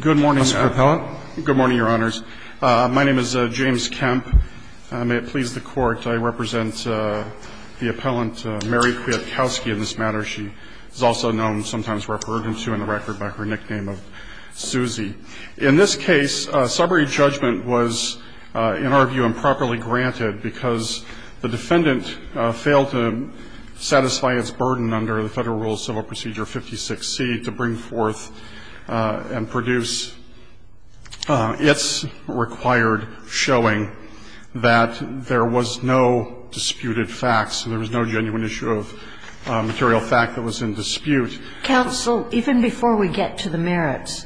Good morning, Your Honors. My name is James Kemp. May it please the Court, I represent the appellant, Mary Kwiatkowski, in this matter. She is also known, sometimes referred to in the record, by her nickname of Suzy. In this case, summary judgment was, in our view, improperly granted because the defendant failed to satisfy its burden under the Federal Rules of Civil Procedure, 56C, to bring forth and produce its required showing that there was no disputed facts, there was no genuine issue of material fact that was in dispute. Counsel, even before we get to the merits,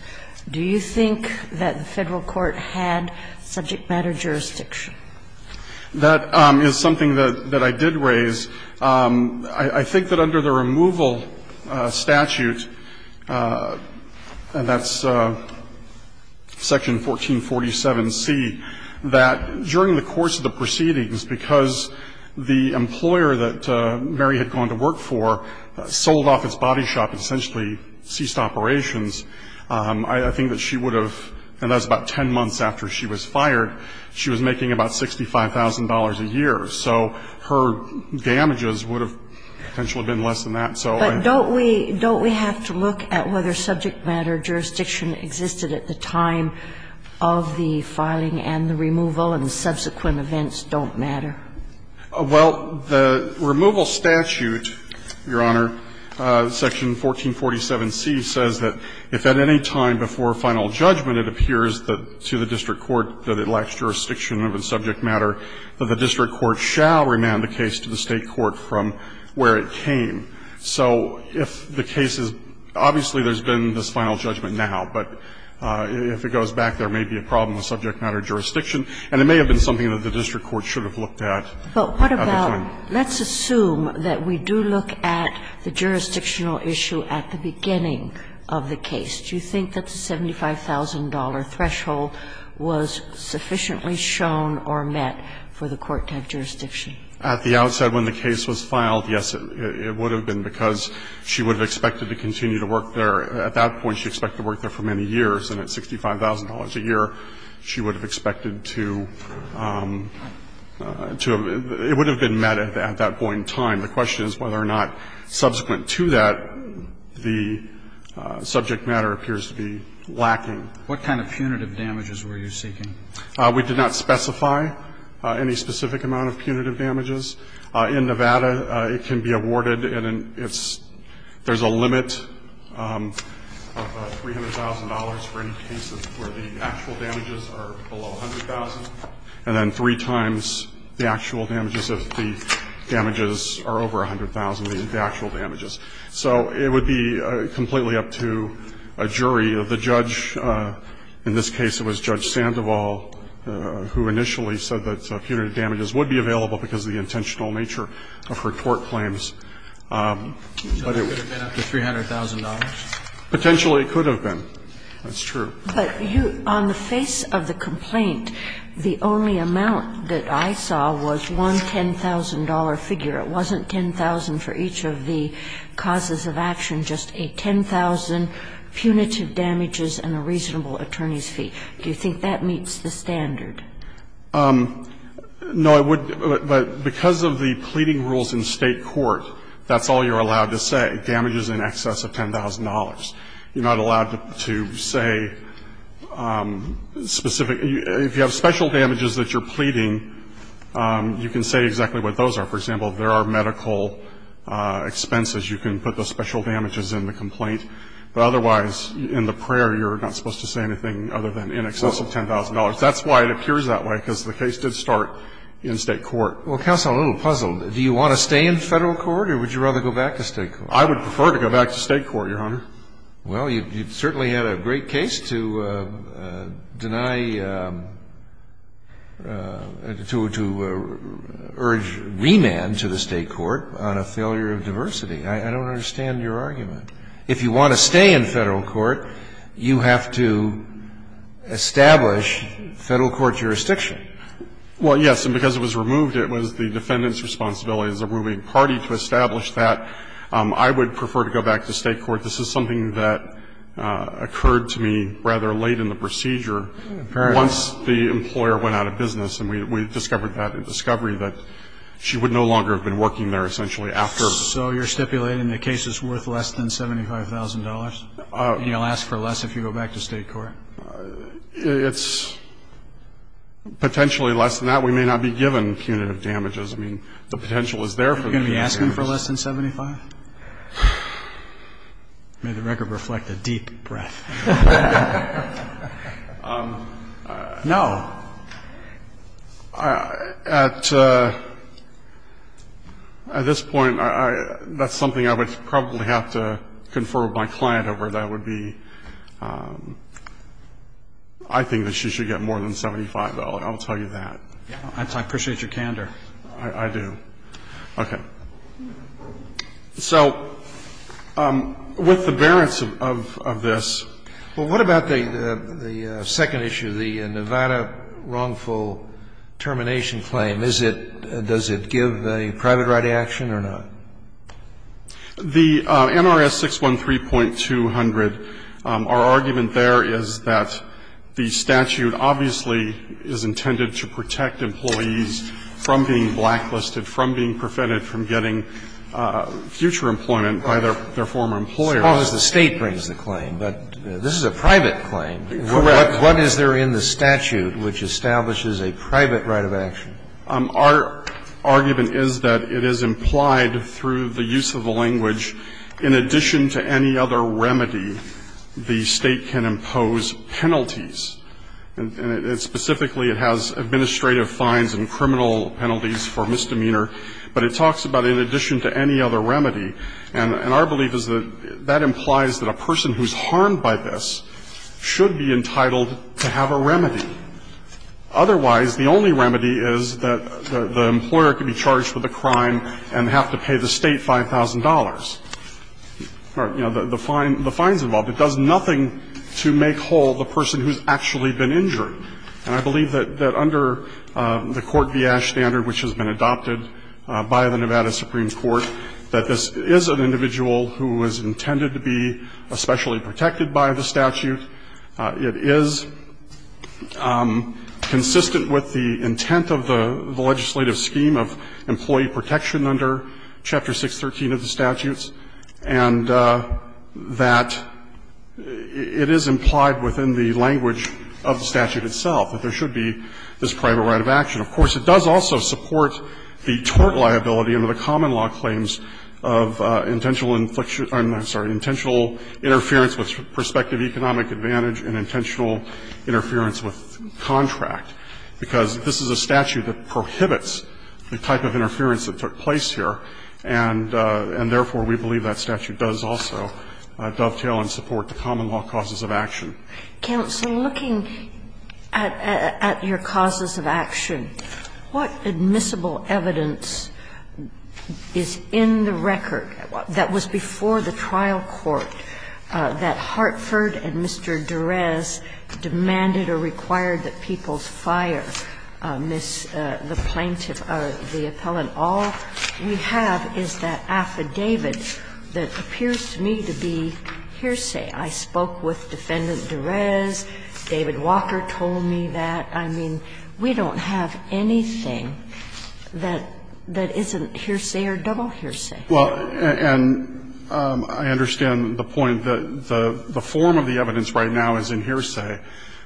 do you think that the Federal court had subject matter jurisdiction? That is something that I did raise. I think that under the removal statute, and that's section 1447C, that during the course of the proceedings, because the employer that Mary had gone to work for sold off its body shop and essentially ceased operations, I think that she would have, and that was about 10 months after she was fired, she was making about $65,000 a year. So her damages would have potentially been less than that. But don't we have to look at whether subject matter jurisdiction existed at the time of the filing and the removal and the subsequent events don't matter? Well, the removal statute, Your Honor, section 1447C, says that if at any time before final judgment it appears that to the district court that it lacks jurisdiction of the subject matter, that the district court shall remand the case to the State court from where it came. So if the case is – obviously, there's been this final judgment at the time. But what about – let's assume that we do look at the jurisdictional issue at the beginning of the case. Do you think that the $75,000 threshold was sufficiently shown or met for the court to have jurisdiction? At the outset, when the case was filed, yes, it would have been, because she would have expected to continue to work there. At that point, she expected to work there for many years, and at $65,000 a year, she would have expected to – it would have been met at that point in time. The question is whether or not, subsequent to that, the subject matter appears to be lacking. What kind of punitive damages were you seeking? We did not specify any specific amount of punitive damages. In Nevada, it can be awarded and it's – there's a limit of $300,000 for any cases where the actual damages are below $100,000, and then three times the actual damages if the damages are over $100,000, the actual damages. So it would be completely up to a jury. The judge – in this case, it was Judge Sandoval who initially said that punitive damages would be available because of the intentional nature of her tort claims. But it would have been up to $300,000? Potentially, it could have been. That's true. But you – on the face of the complaint, the only amount that I saw was one $10,000 figure. It wasn't $10,000 for each of the causes of action, just a $10,000 punitive damages and a reasonable attorney's fee. Do you think that meets the standard? No, I would – but because of the pleading rules in State court, that's all you're allowed to say, damages in excess of $10,000. You're not allowed to say specific – if you have special damages that you're pleading, you can say exactly what those are. For example, if there are medical expenses, you can put the special damages in the complaint. But otherwise, in the prayer, you're not supposed to say anything other than in excess of $10,000. That's why it appears that way, because the case did start in State court. Well, counsel, a little puzzle. Do you want to stay in Federal court or would you rather go back to State court? I would prefer to go back to State court, Your Honor. Well, you certainly had a great case to deny – to urge remand to the State court on a failure of diversity. I don't understand your argument. If you want to stay in Federal court, you have to establish Federal court jurisdiction. Well, yes, and because it was removed, it was the defendant's responsibility as a ruling party to establish that. I would prefer to go back to State court. This is something that occurred to me rather late in the procedure once the employer went out of business, and we discovered that in discovery, that she would no longer have been working there essentially after. So you're stipulating the case is worth less than $75,000, and you'll ask for less if you go back to State court? It's potentially less than that. We may not be given punitive damages. I mean, the potential is there for punitive damages. Are you going to be asking for less than $75,000? May the record reflect a deep breath. No. At this point, that's something I would probably have to confer with my client over. That would be, I think that she should get more than $75,000. I'll tell you that. I appreciate your candor. I do. Okay. So with the bearance of this. Well, what about the second issue, the Nevada wrongful termination claim? Is it, does it give a private right of action or not? The NRS 613.200, our argument there is that the statute obviously is intended to protect employees from being blacklisted, from being prevented from getting future employment by their former employer. As long as the State brings the claim. But this is a private claim. Correct. What is there in the statute which establishes a private right of action? Our argument is that it is implied through the use of the language, in addition to any other remedy, the State can impose penalties. And specifically, it has administrative fines and criminal penalties for misdemeanor. But it talks about in addition to any other remedy. And our belief is that that implies that a person who's harmed by this should be entitled to have a remedy. Otherwise, the only remedy is that the employer can be charged with a crime and have to pay the State $5,000. You know, the fines involved. It does nothing to make whole the person who's actually been injured. And I believe that under the Court v. Ash Standard, which has been adopted by the Nevada Supreme Court, that this is an individual who is intended to be especially protected by the statute. It is consistent with the intent of the legislative scheme of employee protection under Chapter 613 of the statutes. And that it is implied within the language of the statute itself that there should be this private right of action. Of course, it does also support the tort liability under the common law claims of intentional infliction of, I'm sorry, intentional interference with prospective economic advantage and intentional interference with contract, because this is a statute that prohibits the type of interference that took place here. And therefore, we believe that statute does also dovetail and support the common law causes of action. Kagan, so looking at your causes of action, what admissible evidence is in the record that was before the trial court that Hartford and Mr. Durez demanded or required that people's fire miss the plaintiff or the appellant? All we have is that affidavit that appears to me to be hearsay. I spoke with Defendant Durez. David Walker told me that. I mean, we don't have anything that isn't hearsay or double hearsay. Well, and I understand the point. The form of the evidence right now is in hearsay.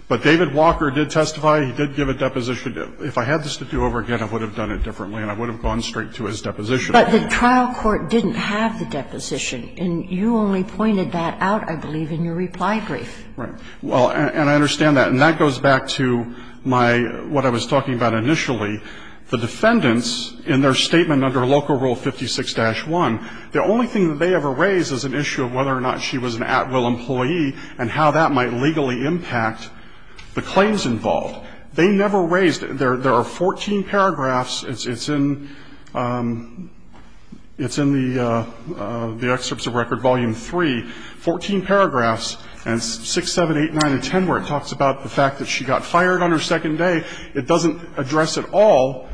But David Walker did testify. He did give a deposition. If I had this to do over again, I would have done it differently and I would have gone straight to his deposition. But the trial court didn't have the deposition. And you only pointed that out, I believe, in your reply brief. Right. Well, and I understand that. And that goes back to my what I was talking about initially. The defendants, in their statement under Local Rule 56-1, the only thing that they ever raise is an issue of whether or not she was an at-will employee and how that might legally impact the claims involved. They never raised it. There are 14 paragraphs. It's in the Excerpts of Record, Volume 3, 14 paragraphs, and 6, 7, 8, 9, and 10 where it talks about the fact that she got fired on her second day. It doesn't address at all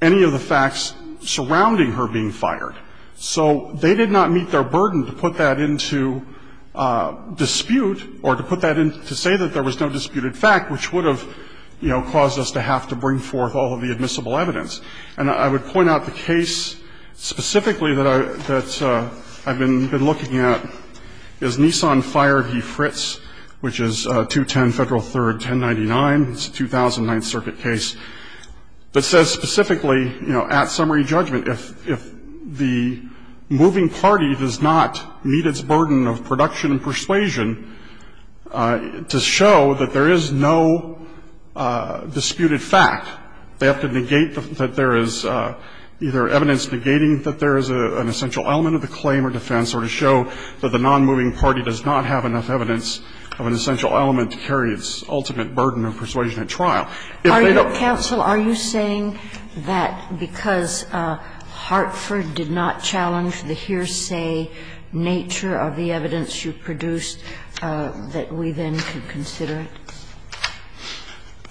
any of the facts surrounding her being fired. So they did not meet their burden to put that into dispute or to put that into say that there was no disputed fact, which would have, you know, caused us to have to bring forth all of the admissible evidence. And I would point out the case specifically that I've been looking at is Nissan Fire v. Fritz, which is 210 Federal 3rd, 1099. It's a 2009 circuit case. It says specifically, you know, at summary judgment, if the moving party does not meet its burden of production and persuasion to show that there is no disputed fact, they have to negate that there is either evidence negating that there is an essential element of the claim or defense or to show that the nonmoving party does not have enough evidence of an essential element to carry its ultimate burden of persuasion at trial. If they don't ---- Kagan. Are you saying that because Hartford did not challenge the hearsay nature of the evidence you produced that we then could consider it?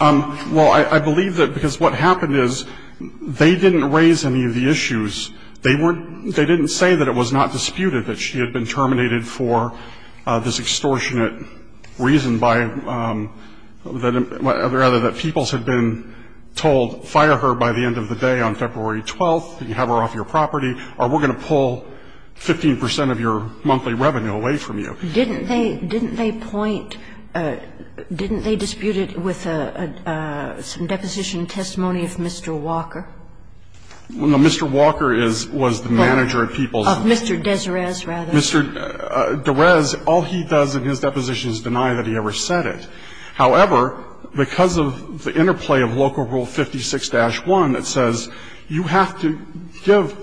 Well, I believe that because what happened is they didn't raise any of the issues. They weren't they didn't say that it was not disputed that she had been terminated for this extortionate reason by the other other that Peoples had been told, fire her by the end of the day on February 12th, have her off your property, or we're going to pull 15 percent of your monthly revenue away from you. Didn't they point, didn't they dispute it with some deposition testimony of Mr. Walker? Mr. Walker is, was the manager of Peoples. Of Mr. Dezarez, rather. Mr. Derez, all he does in his deposition is deny that he ever said it. However, because of the interplay of Local Rule 56-1 that says you have to give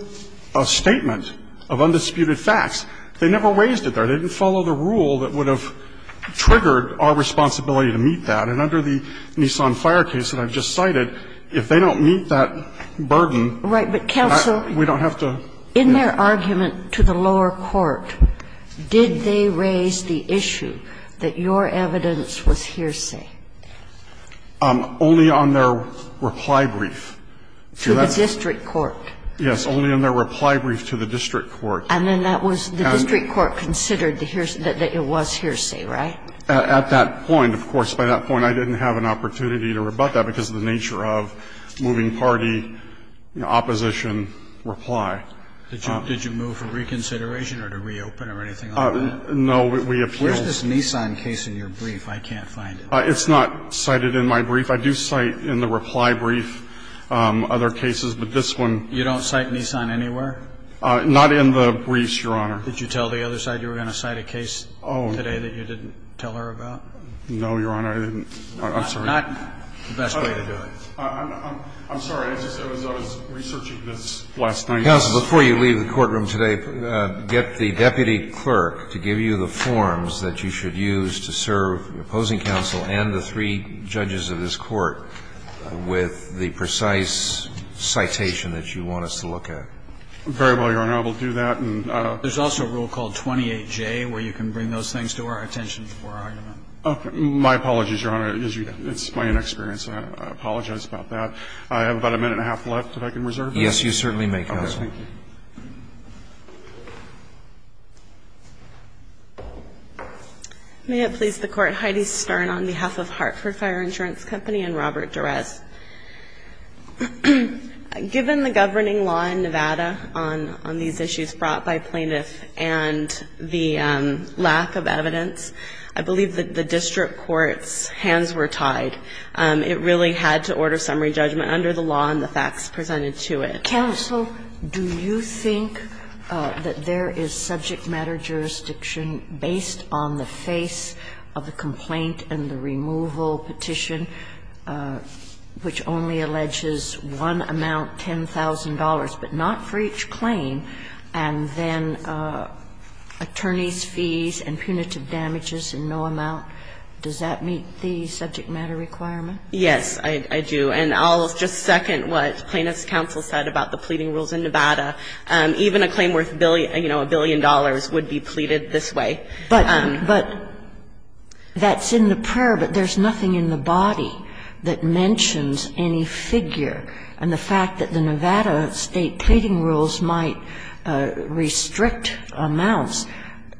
a statement of undisputed facts, they never raised it there. They didn't follow the rule that would have triggered our responsibility to meet that. And under the Nissan Fire case that I've just cited, if they don't meet that burden, we don't have to ---- Kagan. Did they raise the issue that your evidence was hearsay? Only on their reply brief. To the district court. Yes. Only on their reply brief to the district court. And then that was the district court considered the hearsay, that it was hearsay, right? At that point, of course. By that point, I didn't have an opportunity to rebut that because of the nature of moving party, you know, opposition reply. Did you move for reconsideration or to reopen or anything like that? No. We appealed. Where's this Nissan case in your brief? I can't find it. It's not cited in my brief. I do cite in the reply brief other cases, but this one ---- You don't cite Nissan anywhere? Not in the briefs, Your Honor. Did you tell the other side you were going to cite a case today that you didn't tell her about? No, Your Honor. I didn't. I'm sorry. Not the best way to do it. I'm sorry. Counsel, before you leave the courtroom today, get the deputy clerk to give you the forms that you should use to serve the opposing counsel and the three judges of this court with the precise citation that you want us to look at. Very well, Your Honor. I will do that. There's also a rule called 28J where you can bring those things to our attention before argument. My apologies, Your Honor. It's my inexperience. I apologize about that. I have about a minute and a half left, if I can reserve that. Yes, you certainly may, counsel. Okay, thank you. May it please the Court. Heidi Stern on behalf of Hartford Fire Insurance Company and Robert Durez. Given the governing law in Nevada on these issues brought by plaintiffs and the lack of evidence, I believe that the district court's hands were tied. It really had to order summary judgment under the law and the facts presented to it. Counsel, do you think that there is subject matter jurisdiction based on the face of the complaint and the removal petition, which only alleges one amount, $10,000, but not for each claim, and then attorneys' fees and punitive damages in no amount? Does that meet the subject matter requirement? Yes, I do. And I'll just second what plaintiff's counsel said about the pleading rules in Nevada. Even a claim worth, you know, a billion dollars would be pleaded this way. But that's in the prayer, but there's nothing in the body that mentions any figure. And the fact that the Nevada state pleading rules might restrict amounts,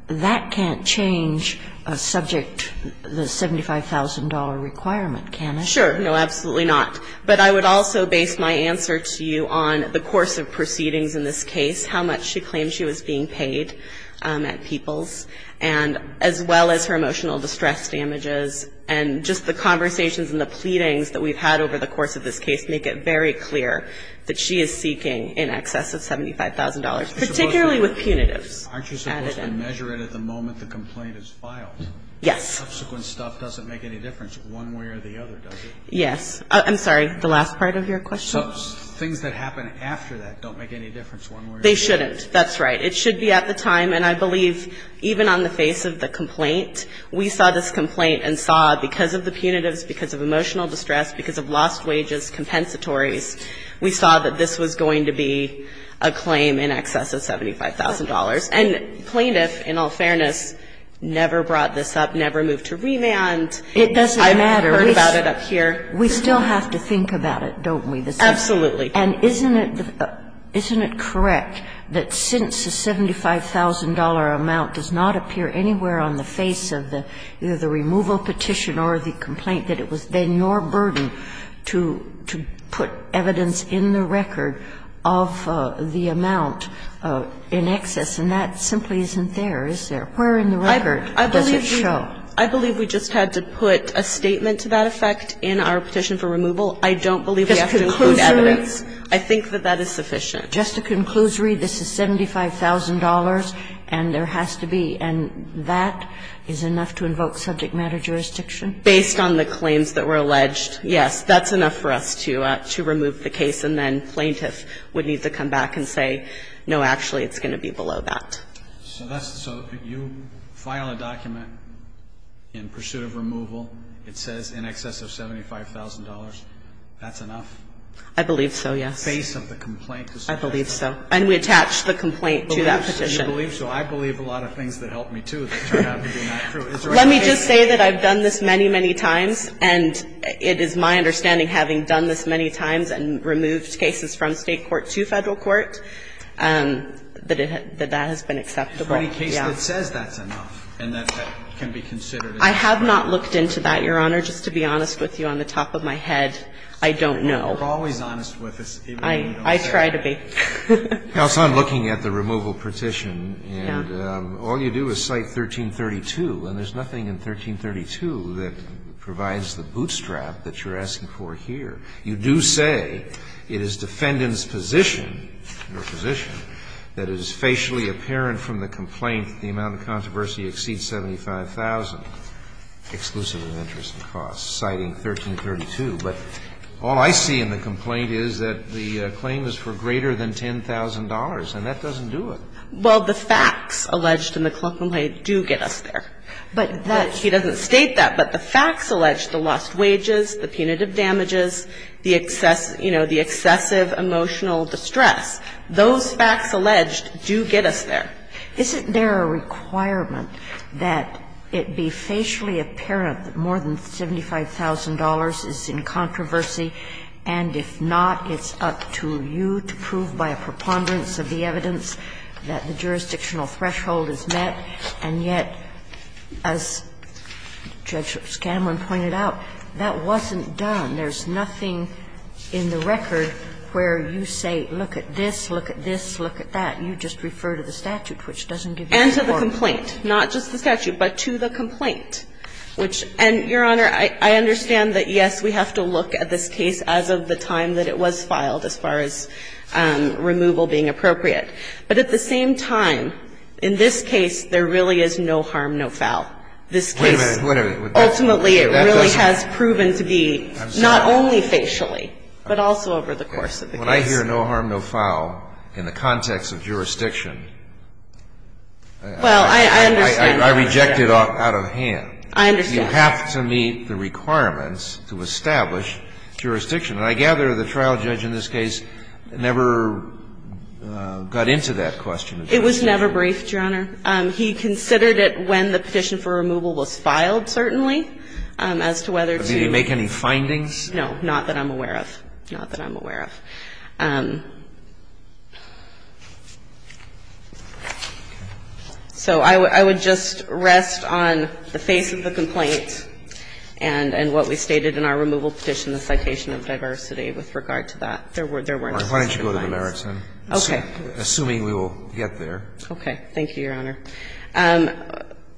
that can't change a subject, the $75,000 requirement, can it? Sure. No, absolutely not. But I would also base my answer to you on the course of proceedings in this case, how much she claimed she was being paid at People's, and as well as her emotional distress damages. And just the conversations and the pleadings that we've had over the course of this case make it very clear that she is seeking in excess of $75,000, particularly with punitives added in. Aren't you supposed to measure it at the moment the complaint is filed? Yes. Subsequent stuff doesn't make any difference one way or the other, does it? Yes. I'm sorry, the last part of your question? So things that happen after that don't make any difference one way or the other? They shouldn't. That's right. It should be at the time. And I believe even on the face of the complaint, we saw this complaint and saw because of the punitives, because of emotional distress, because of lost wages, compensatories, we saw that this was going to be a claim in excess of $75,000. And Plaintiff, in all fairness, never brought this up, never moved to revand. It doesn't matter. I've heard about it up here. We still have to think about it, don't we? Absolutely. And isn't it correct that since the $75,000 amount does not appear anywhere on the face of the removal petition or the complaint, that it was then your burden to put evidence in the record of the amount in excess? And that simply isn't there, is there? Where in the record does it show? I believe we just had to put a statement to that effect in our petition for removal. I don't believe we have to include evidence. Just a conclusory? I think that that is sufficient. Just a conclusory, this is $75,000 and there has to be. And that is enough to invoke subject matter jurisdiction? Based on the claims that were alleged, yes. That's enough for us to remove the case and then plaintiff would need to come back and say, no, actually, it's going to be below that. So that's, so you file a document in pursuit of removal. It says in excess of $75,000. That's enough? I believe so, yes. The face of the complaint is $75,000. I believe so. And we attach the complaint to that petition. You believe so. I believe a lot of things that helped me, too, that turned out to be not true. Is there any way? And I think that, just because we're going to have to remove the case, and in my understanding, having done this many times and removed cases from State court to Federal Court, that it, that that has been acceptable. For any case that says that's enough and that that can be considered in the trial. I have not looked into that, Your Honor, just to be honest with you, on the top of my head. I don't know. You're always honest with us even when you don't say it. I try to be. Now, it's on looking at the removal petition, and all you do is cite 1332, and there's nothing in 1332 that provides the bootstrap that you're asking for here. You do say it is defendant's position, your position, that it is facially apparent from the complaint the amount of controversy exceeds $75,000, exclusive of interest and costs, citing 1332. But all I see in the complaint is that the claim is for greater than $10,000, and that doesn't do it. Well, the facts alleged in the complaint do get us there. But that's the case. He doesn't state that, but the facts alleged, the lost wages, the punitive damages, the excess, you know, the excessive emotional distress, those facts alleged do get us there. Isn't there a requirement that it be facially apparent that more than $75,000 is in controversy, and if not, it's up to you to prove by a preponderance of the evidence that the jurisdictional threshold is met? And yet, as Judge Scanlon pointed out, that wasn't done. There's nothing in the record where you say, look at this, look at this, look at that. You just refer to the statute, which doesn't give you the report. And to the complaint, not just the statute, but to the complaint, which – and, Your Honor, I understand that, yes, we have to look at this case as of the time that it was filed, as far as removal being appropriate. But at the same time, in this case, there really is no harm, no foul. This case, ultimately, it really has proven to be, not only facially, but also over the course of the case. When I hear no harm, no foul, in the context of jurisdiction, I reject it out of hand. I understand. You have to meet the requirements to establish jurisdiction. And I gather the trial judge in this case never got into that question. It was never briefed, Your Honor. He considered it when the petition for removal was filed, certainly, as to whether to – Did he make any findings? No. Not that I'm aware of. Not that I'm aware of. So I would just rest on the face of the complaint and what we stated in our removal petition, the citation of diversity, with regard to that. There weren't – there weren't specific findings. Why don't you go to the merits, assuming we will get there. Okay. Thank you, Your Honor.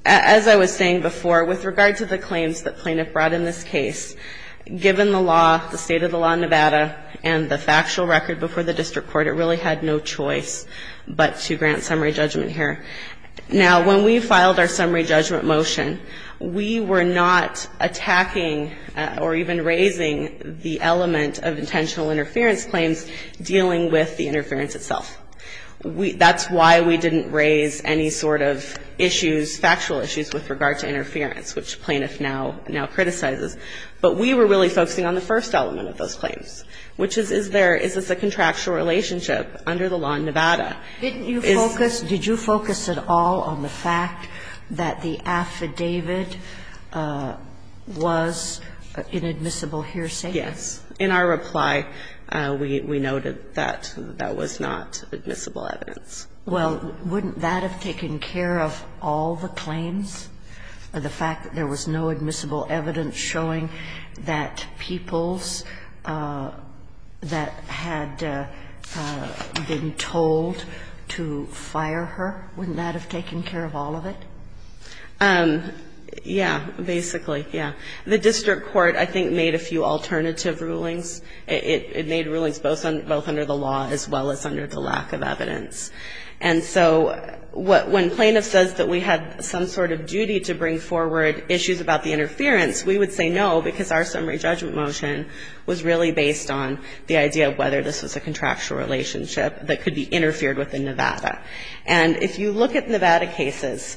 As I was saying before, with regard to the claims that Plaintiff brought in this case, given the law, the state of the law in Nevada, and the factual record before the district court, it really had no choice but to grant summary judgment here. Now, when we filed our summary judgment motion, we were not attacking or even raising the element of intentional interference claims dealing with the interference itself. That's why we didn't raise any sort of issues, factual issues, with regard to But we were really focusing on the first element of those claims, which is, is there – is this a contractual relationship under the law in Nevada? Didn't you focus – did you focus at all on the fact that the affidavit was an admissible hearsay? Yes. In our reply, we noted that that was not admissible evidence. Well, wouldn't that have taken care of all the claims, the fact that there was no admissible evidence showing that peoples that had been told to fire her, wouldn't that have taken care of all of it? Yeah, basically, yeah. The district court, I think, made a few alternative rulings. It made rulings both under the law as well as under the lack of evidence. And so when Plaintiff says that we had some sort of duty to bring forward issues about the interference, we would say no, because our summary judgment motion was really based on the idea of whether this was a contractual relationship that could be interfered with in Nevada. And if you look at Nevada cases,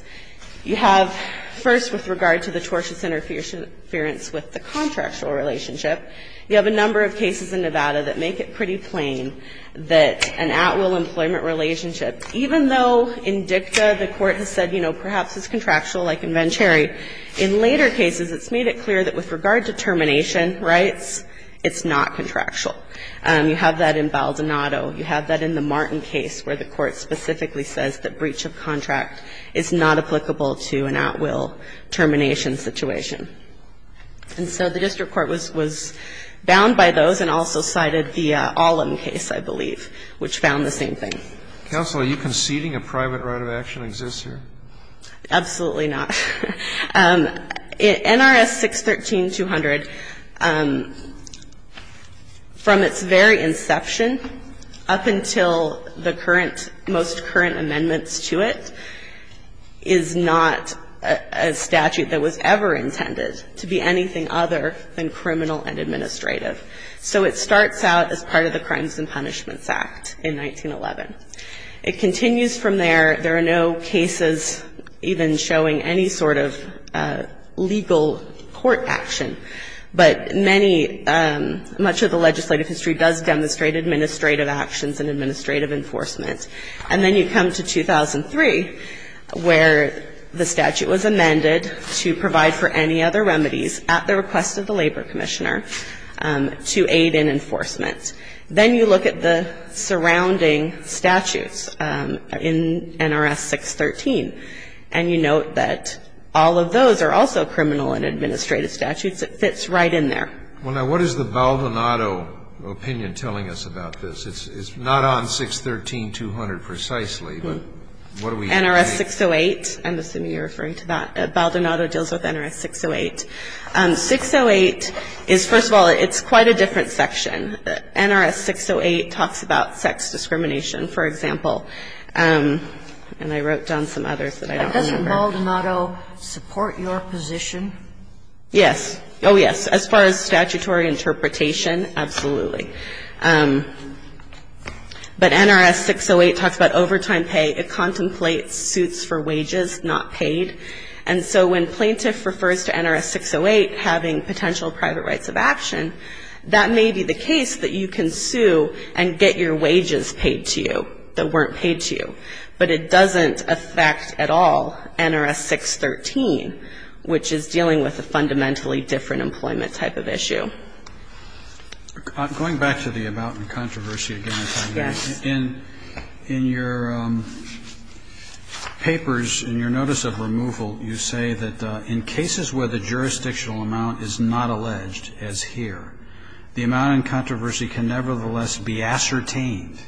you have, first, with regard to the tortious interference with the contractual relationship, you have a number of cases in Nevada that make it pretty plain that an at-will employment relationship, even though in DICTA the court has said, you In later cases, it's made it clear that with regard to termination rights, it's not contractual. You have that in Baldonado. You have that in the Martin case where the court specifically says that breach of contract is not applicable to an at-will termination situation. And so the district court was bound by those and also cited the Ollam case, I believe, which found the same thing. Counsel, are you conceding a private right of action exists here? Absolutely not. NRS 613-200, from its very inception up until the current, most current amendments to it, is not a statute that was ever intended to be anything other than criminal and administrative. So it starts out as part of the Crimes and Punishments Act in 1911. It continues from there. There are no cases even showing any sort of legal court action. But many, much of the legislative history does demonstrate administrative actions and administrative enforcement. And then you come to 2003, where the statute was amended to provide for any other remedies at the request of the labor commissioner to aid in enforcement. Then you look at the surrounding statutes in NRS 613, and you note that all of those are also criminal and administrative statutes. It fits right in there. Well, now, what is the Baldonado opinion telling us about this? It's not on 613-200 precisely, but what do we know? NRS 608, I'm assuming you're referring to that. Baldonado deals with NRS 608. 608 is, first of all, it's quite a different section. NRS 608 talks about sex discrimination, for example. And I wrote down some others that I don't remember. Does Baldonado support your position? Yes. Oh, yes. As far as statutory interpretation, absolutely. But NRS 608 talks about overtime pay. It contemplates suits for wages not paid. And so when plaintiff refers to NRS 608 having potential private rights of action, that may be the case that you can sue and get your wages paid to you that weren't paid to you. But it doesn't affect at all NRS 613, which is dealing with a fundamentally different employment type of issue. Going back to the about and controversy again this afternoon, in your papers, in your notice of removal, you say that in cases where the jurisdictional amount is not alleged, as here, the amount in controversy can nevertheless be ascertained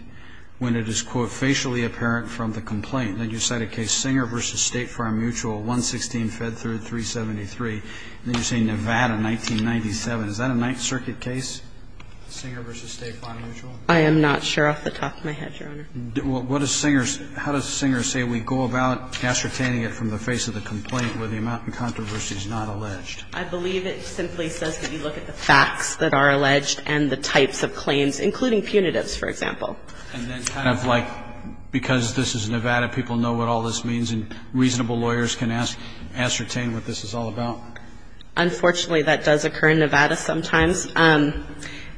when it is, quote, facially apparent from the complaint. Then you cite a case, Singer v. State Farm Mutual, 116, Fed Third, 373. Then you say Nevada, 1997. Is that a Ninth Circuit case, Singer v. State Farm Mutual? I am not sure off the top of my head, Your Honor. What does Singer say? How does Singer say we go about ascertaining it from the face of the complaint where the amount in controversy is not alleged? I believe it simply says that you look at the facts that are alleged and the types of claims, including punitives, for example. And then kind of like, because this is Nevada, people know what all this means and reasonable lawyers can ascertain what this is all about? Unfortunately, that does occur in Nevada sometimes.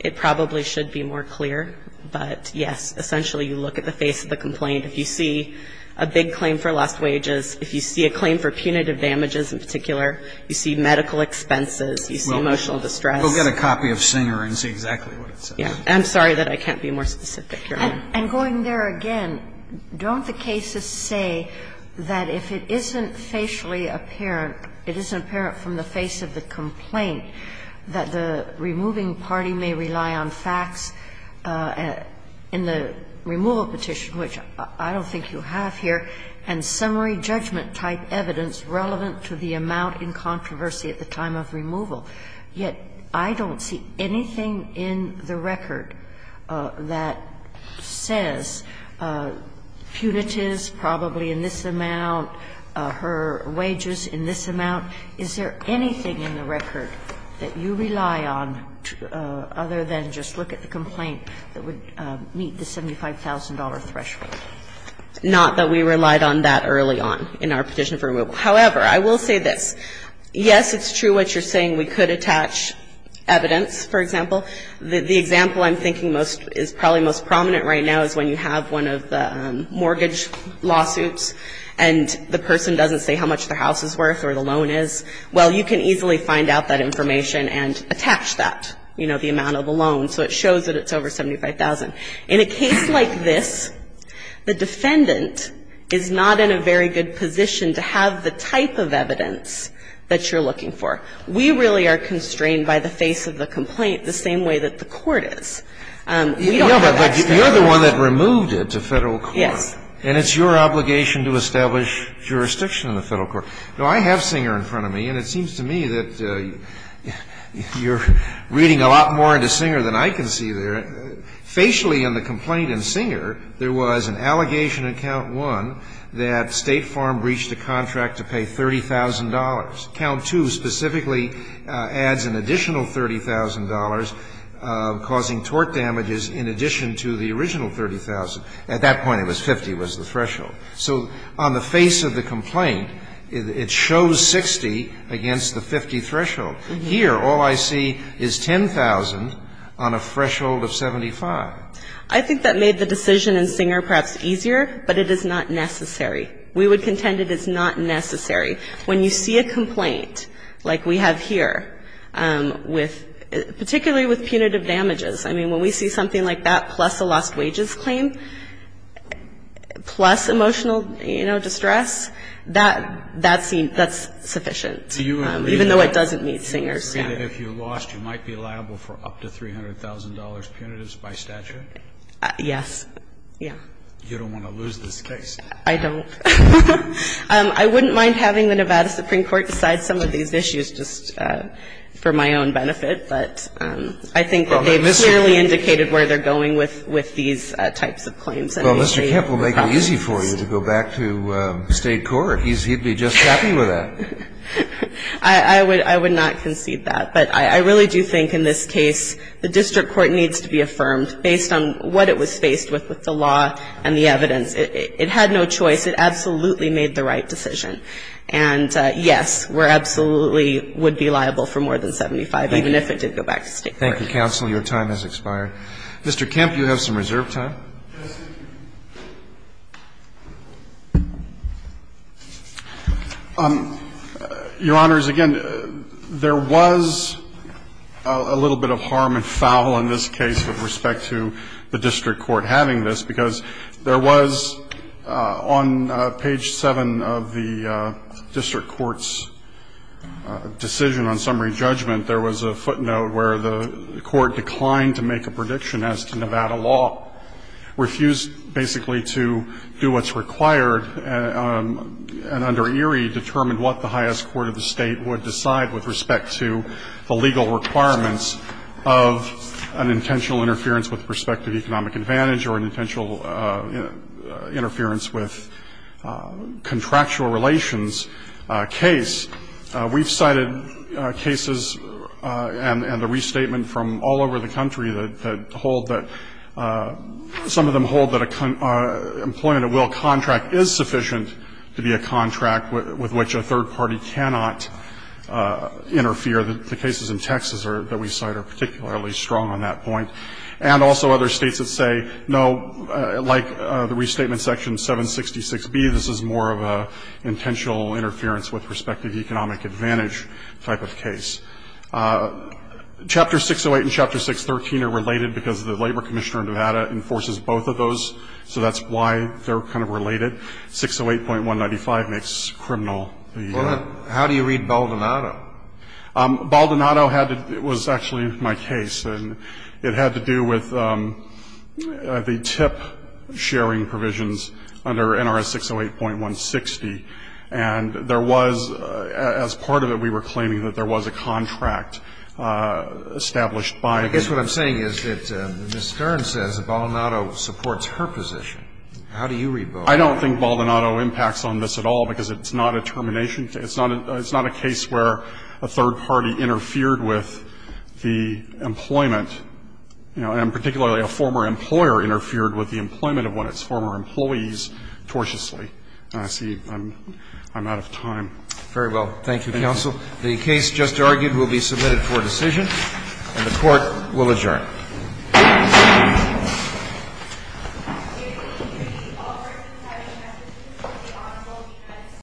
It probably should be more clear. But, yes, essentially you look at the face of the complaint. If you see a big claim for lost wages, if you see a claim for punitive damages in particular, you see medical expenses, you see emotional distress. Well, go get a copy of Singer and see exactly what it says. Yes. I'm sorry that I can't be more specific, Your Honor. And going there again, don't the cases say that if it isn't facially apparent, it isn't apparent from the face of the complaint, that the removing party may rely on facts in the removal petition, which I don't think you have here, and summary judgment-type evidence relevant to the amount in controversy at the time of removal. Yet I don't see anything in the record that says punitives probably in this amount, her wages in this amount. Is there anything in the record that you rely on other than just look at the complaint that would meet the $75,000 threshold? Not that we relied on that early on in our petition for removal. However, I will say this. Yes, it's true what you're saying. We could attach evidence, for example. The example I'm thinking is probably most prominent right now is when you have one of the mortgage lawsuits and the person doesn't say how much their house is worth or the loan is, well, you can easily find out that information and attach that, you know, the amount of the loan. So it shows that it's over $75,000. In a case like this, the defendant is not in a very good position to have the type of evidence that you're looking for. We really are constrained by the face of the complaint the same way that the court is. We don't have that standard. No, but you're the one that removed it to Federal court. Yes. And it's your obligation to establish jurisdiction in the Federal court. Now, I have Singer in front of me, and it seems to me that you're reading a lot more into Singer than I can see there. Facially on the complaint in Singer, there was an allegation in count one that State Farm breached a contract to pay $30,000. Count two specifically adds an additional $30,000, causing tort damages in addition to the original $30,000. So on the face of the complaint, it shows $60,000 against the $50,000 threshold. Here, all I see is $10,000 on a threshold of $75,000. I think that made the decision in Singer perhaps easier, but it is not necessary. We would contend it is not necessary. When you see a complaint like we have here with, particularly with punitive damages, plus emotional, you know, distress, that's sufficient, even though it doesn't meet Singer's standard. Do you agree that if you lost, you might be liable for up to $300,000 punitives by statute? Yes. Yeah. You don't want to lose this case. I don't. I wouldn't mind having the Nevada Supreme Court decide some of these issues just for my own benefit, but I think they've clearly indicated where they're going with these types of claims. Well, Mr. Kemp will make it easy for you to go back to state court. He'd be just happy with that. I would not concede that. But I really do think in this case, the district court needs to be affirmed based on what it was faced with, with the law and the evidence. It had no choice. It absolutely made the right decision. And yes, we absolutely would be liable for more than $75,000, even if it did go back to state court. Thank you, counsel. Your time has expired. Mr. Kemp, you have some reserve time. Yes. Your Honors, again, there was a little bit of harm and foul in this case with respect to the district court having this, because there was on page 7 of the district court's decision on summary judgment, there was a footnote where the district court refused basically to do what's required. And under Erie, determined what the highest court of the state would decide with respect to the legal requirements of an intentional interference with prospective economic advantage or an intentional interference with contractual relations case. We've cited cases and the restatement from all over the country that hold that some of them hold that employment at will contract is sufficient to be a contract with which a third party cannot interfere. The cases in Texas that we cite are particularly strong on that point. And also other states that say, no, like the restatement section 766B, this is more of an intentional interference with prospective economic advantage type of case. Chapter 608 and Chapter 613 are related because the labor commissioner in Nevada enforces both of those. So that's why they're kind of related. 608.195 makes criminal. How do you read Baldonado? Baldonado was actually my case. And it had to do with the TIP sharing provisions under NRS 608.160. And there was, as part of it, we were claiming that there was a contract established by the. I guess what I'm saying is that Ms. Stern says that Baldonado supports her position. How do you read Baldonado? I don't think Baldonado impacts on this at all because it's not a termination case. It's not a case where a third party interfered with the employment, and particularly a former employer interfered with the employment of one of its former employees tortuously. See, I'm out of time. Very well. Thank you, counsel. The case just argued will be submitted for decision, and the court will adjourn.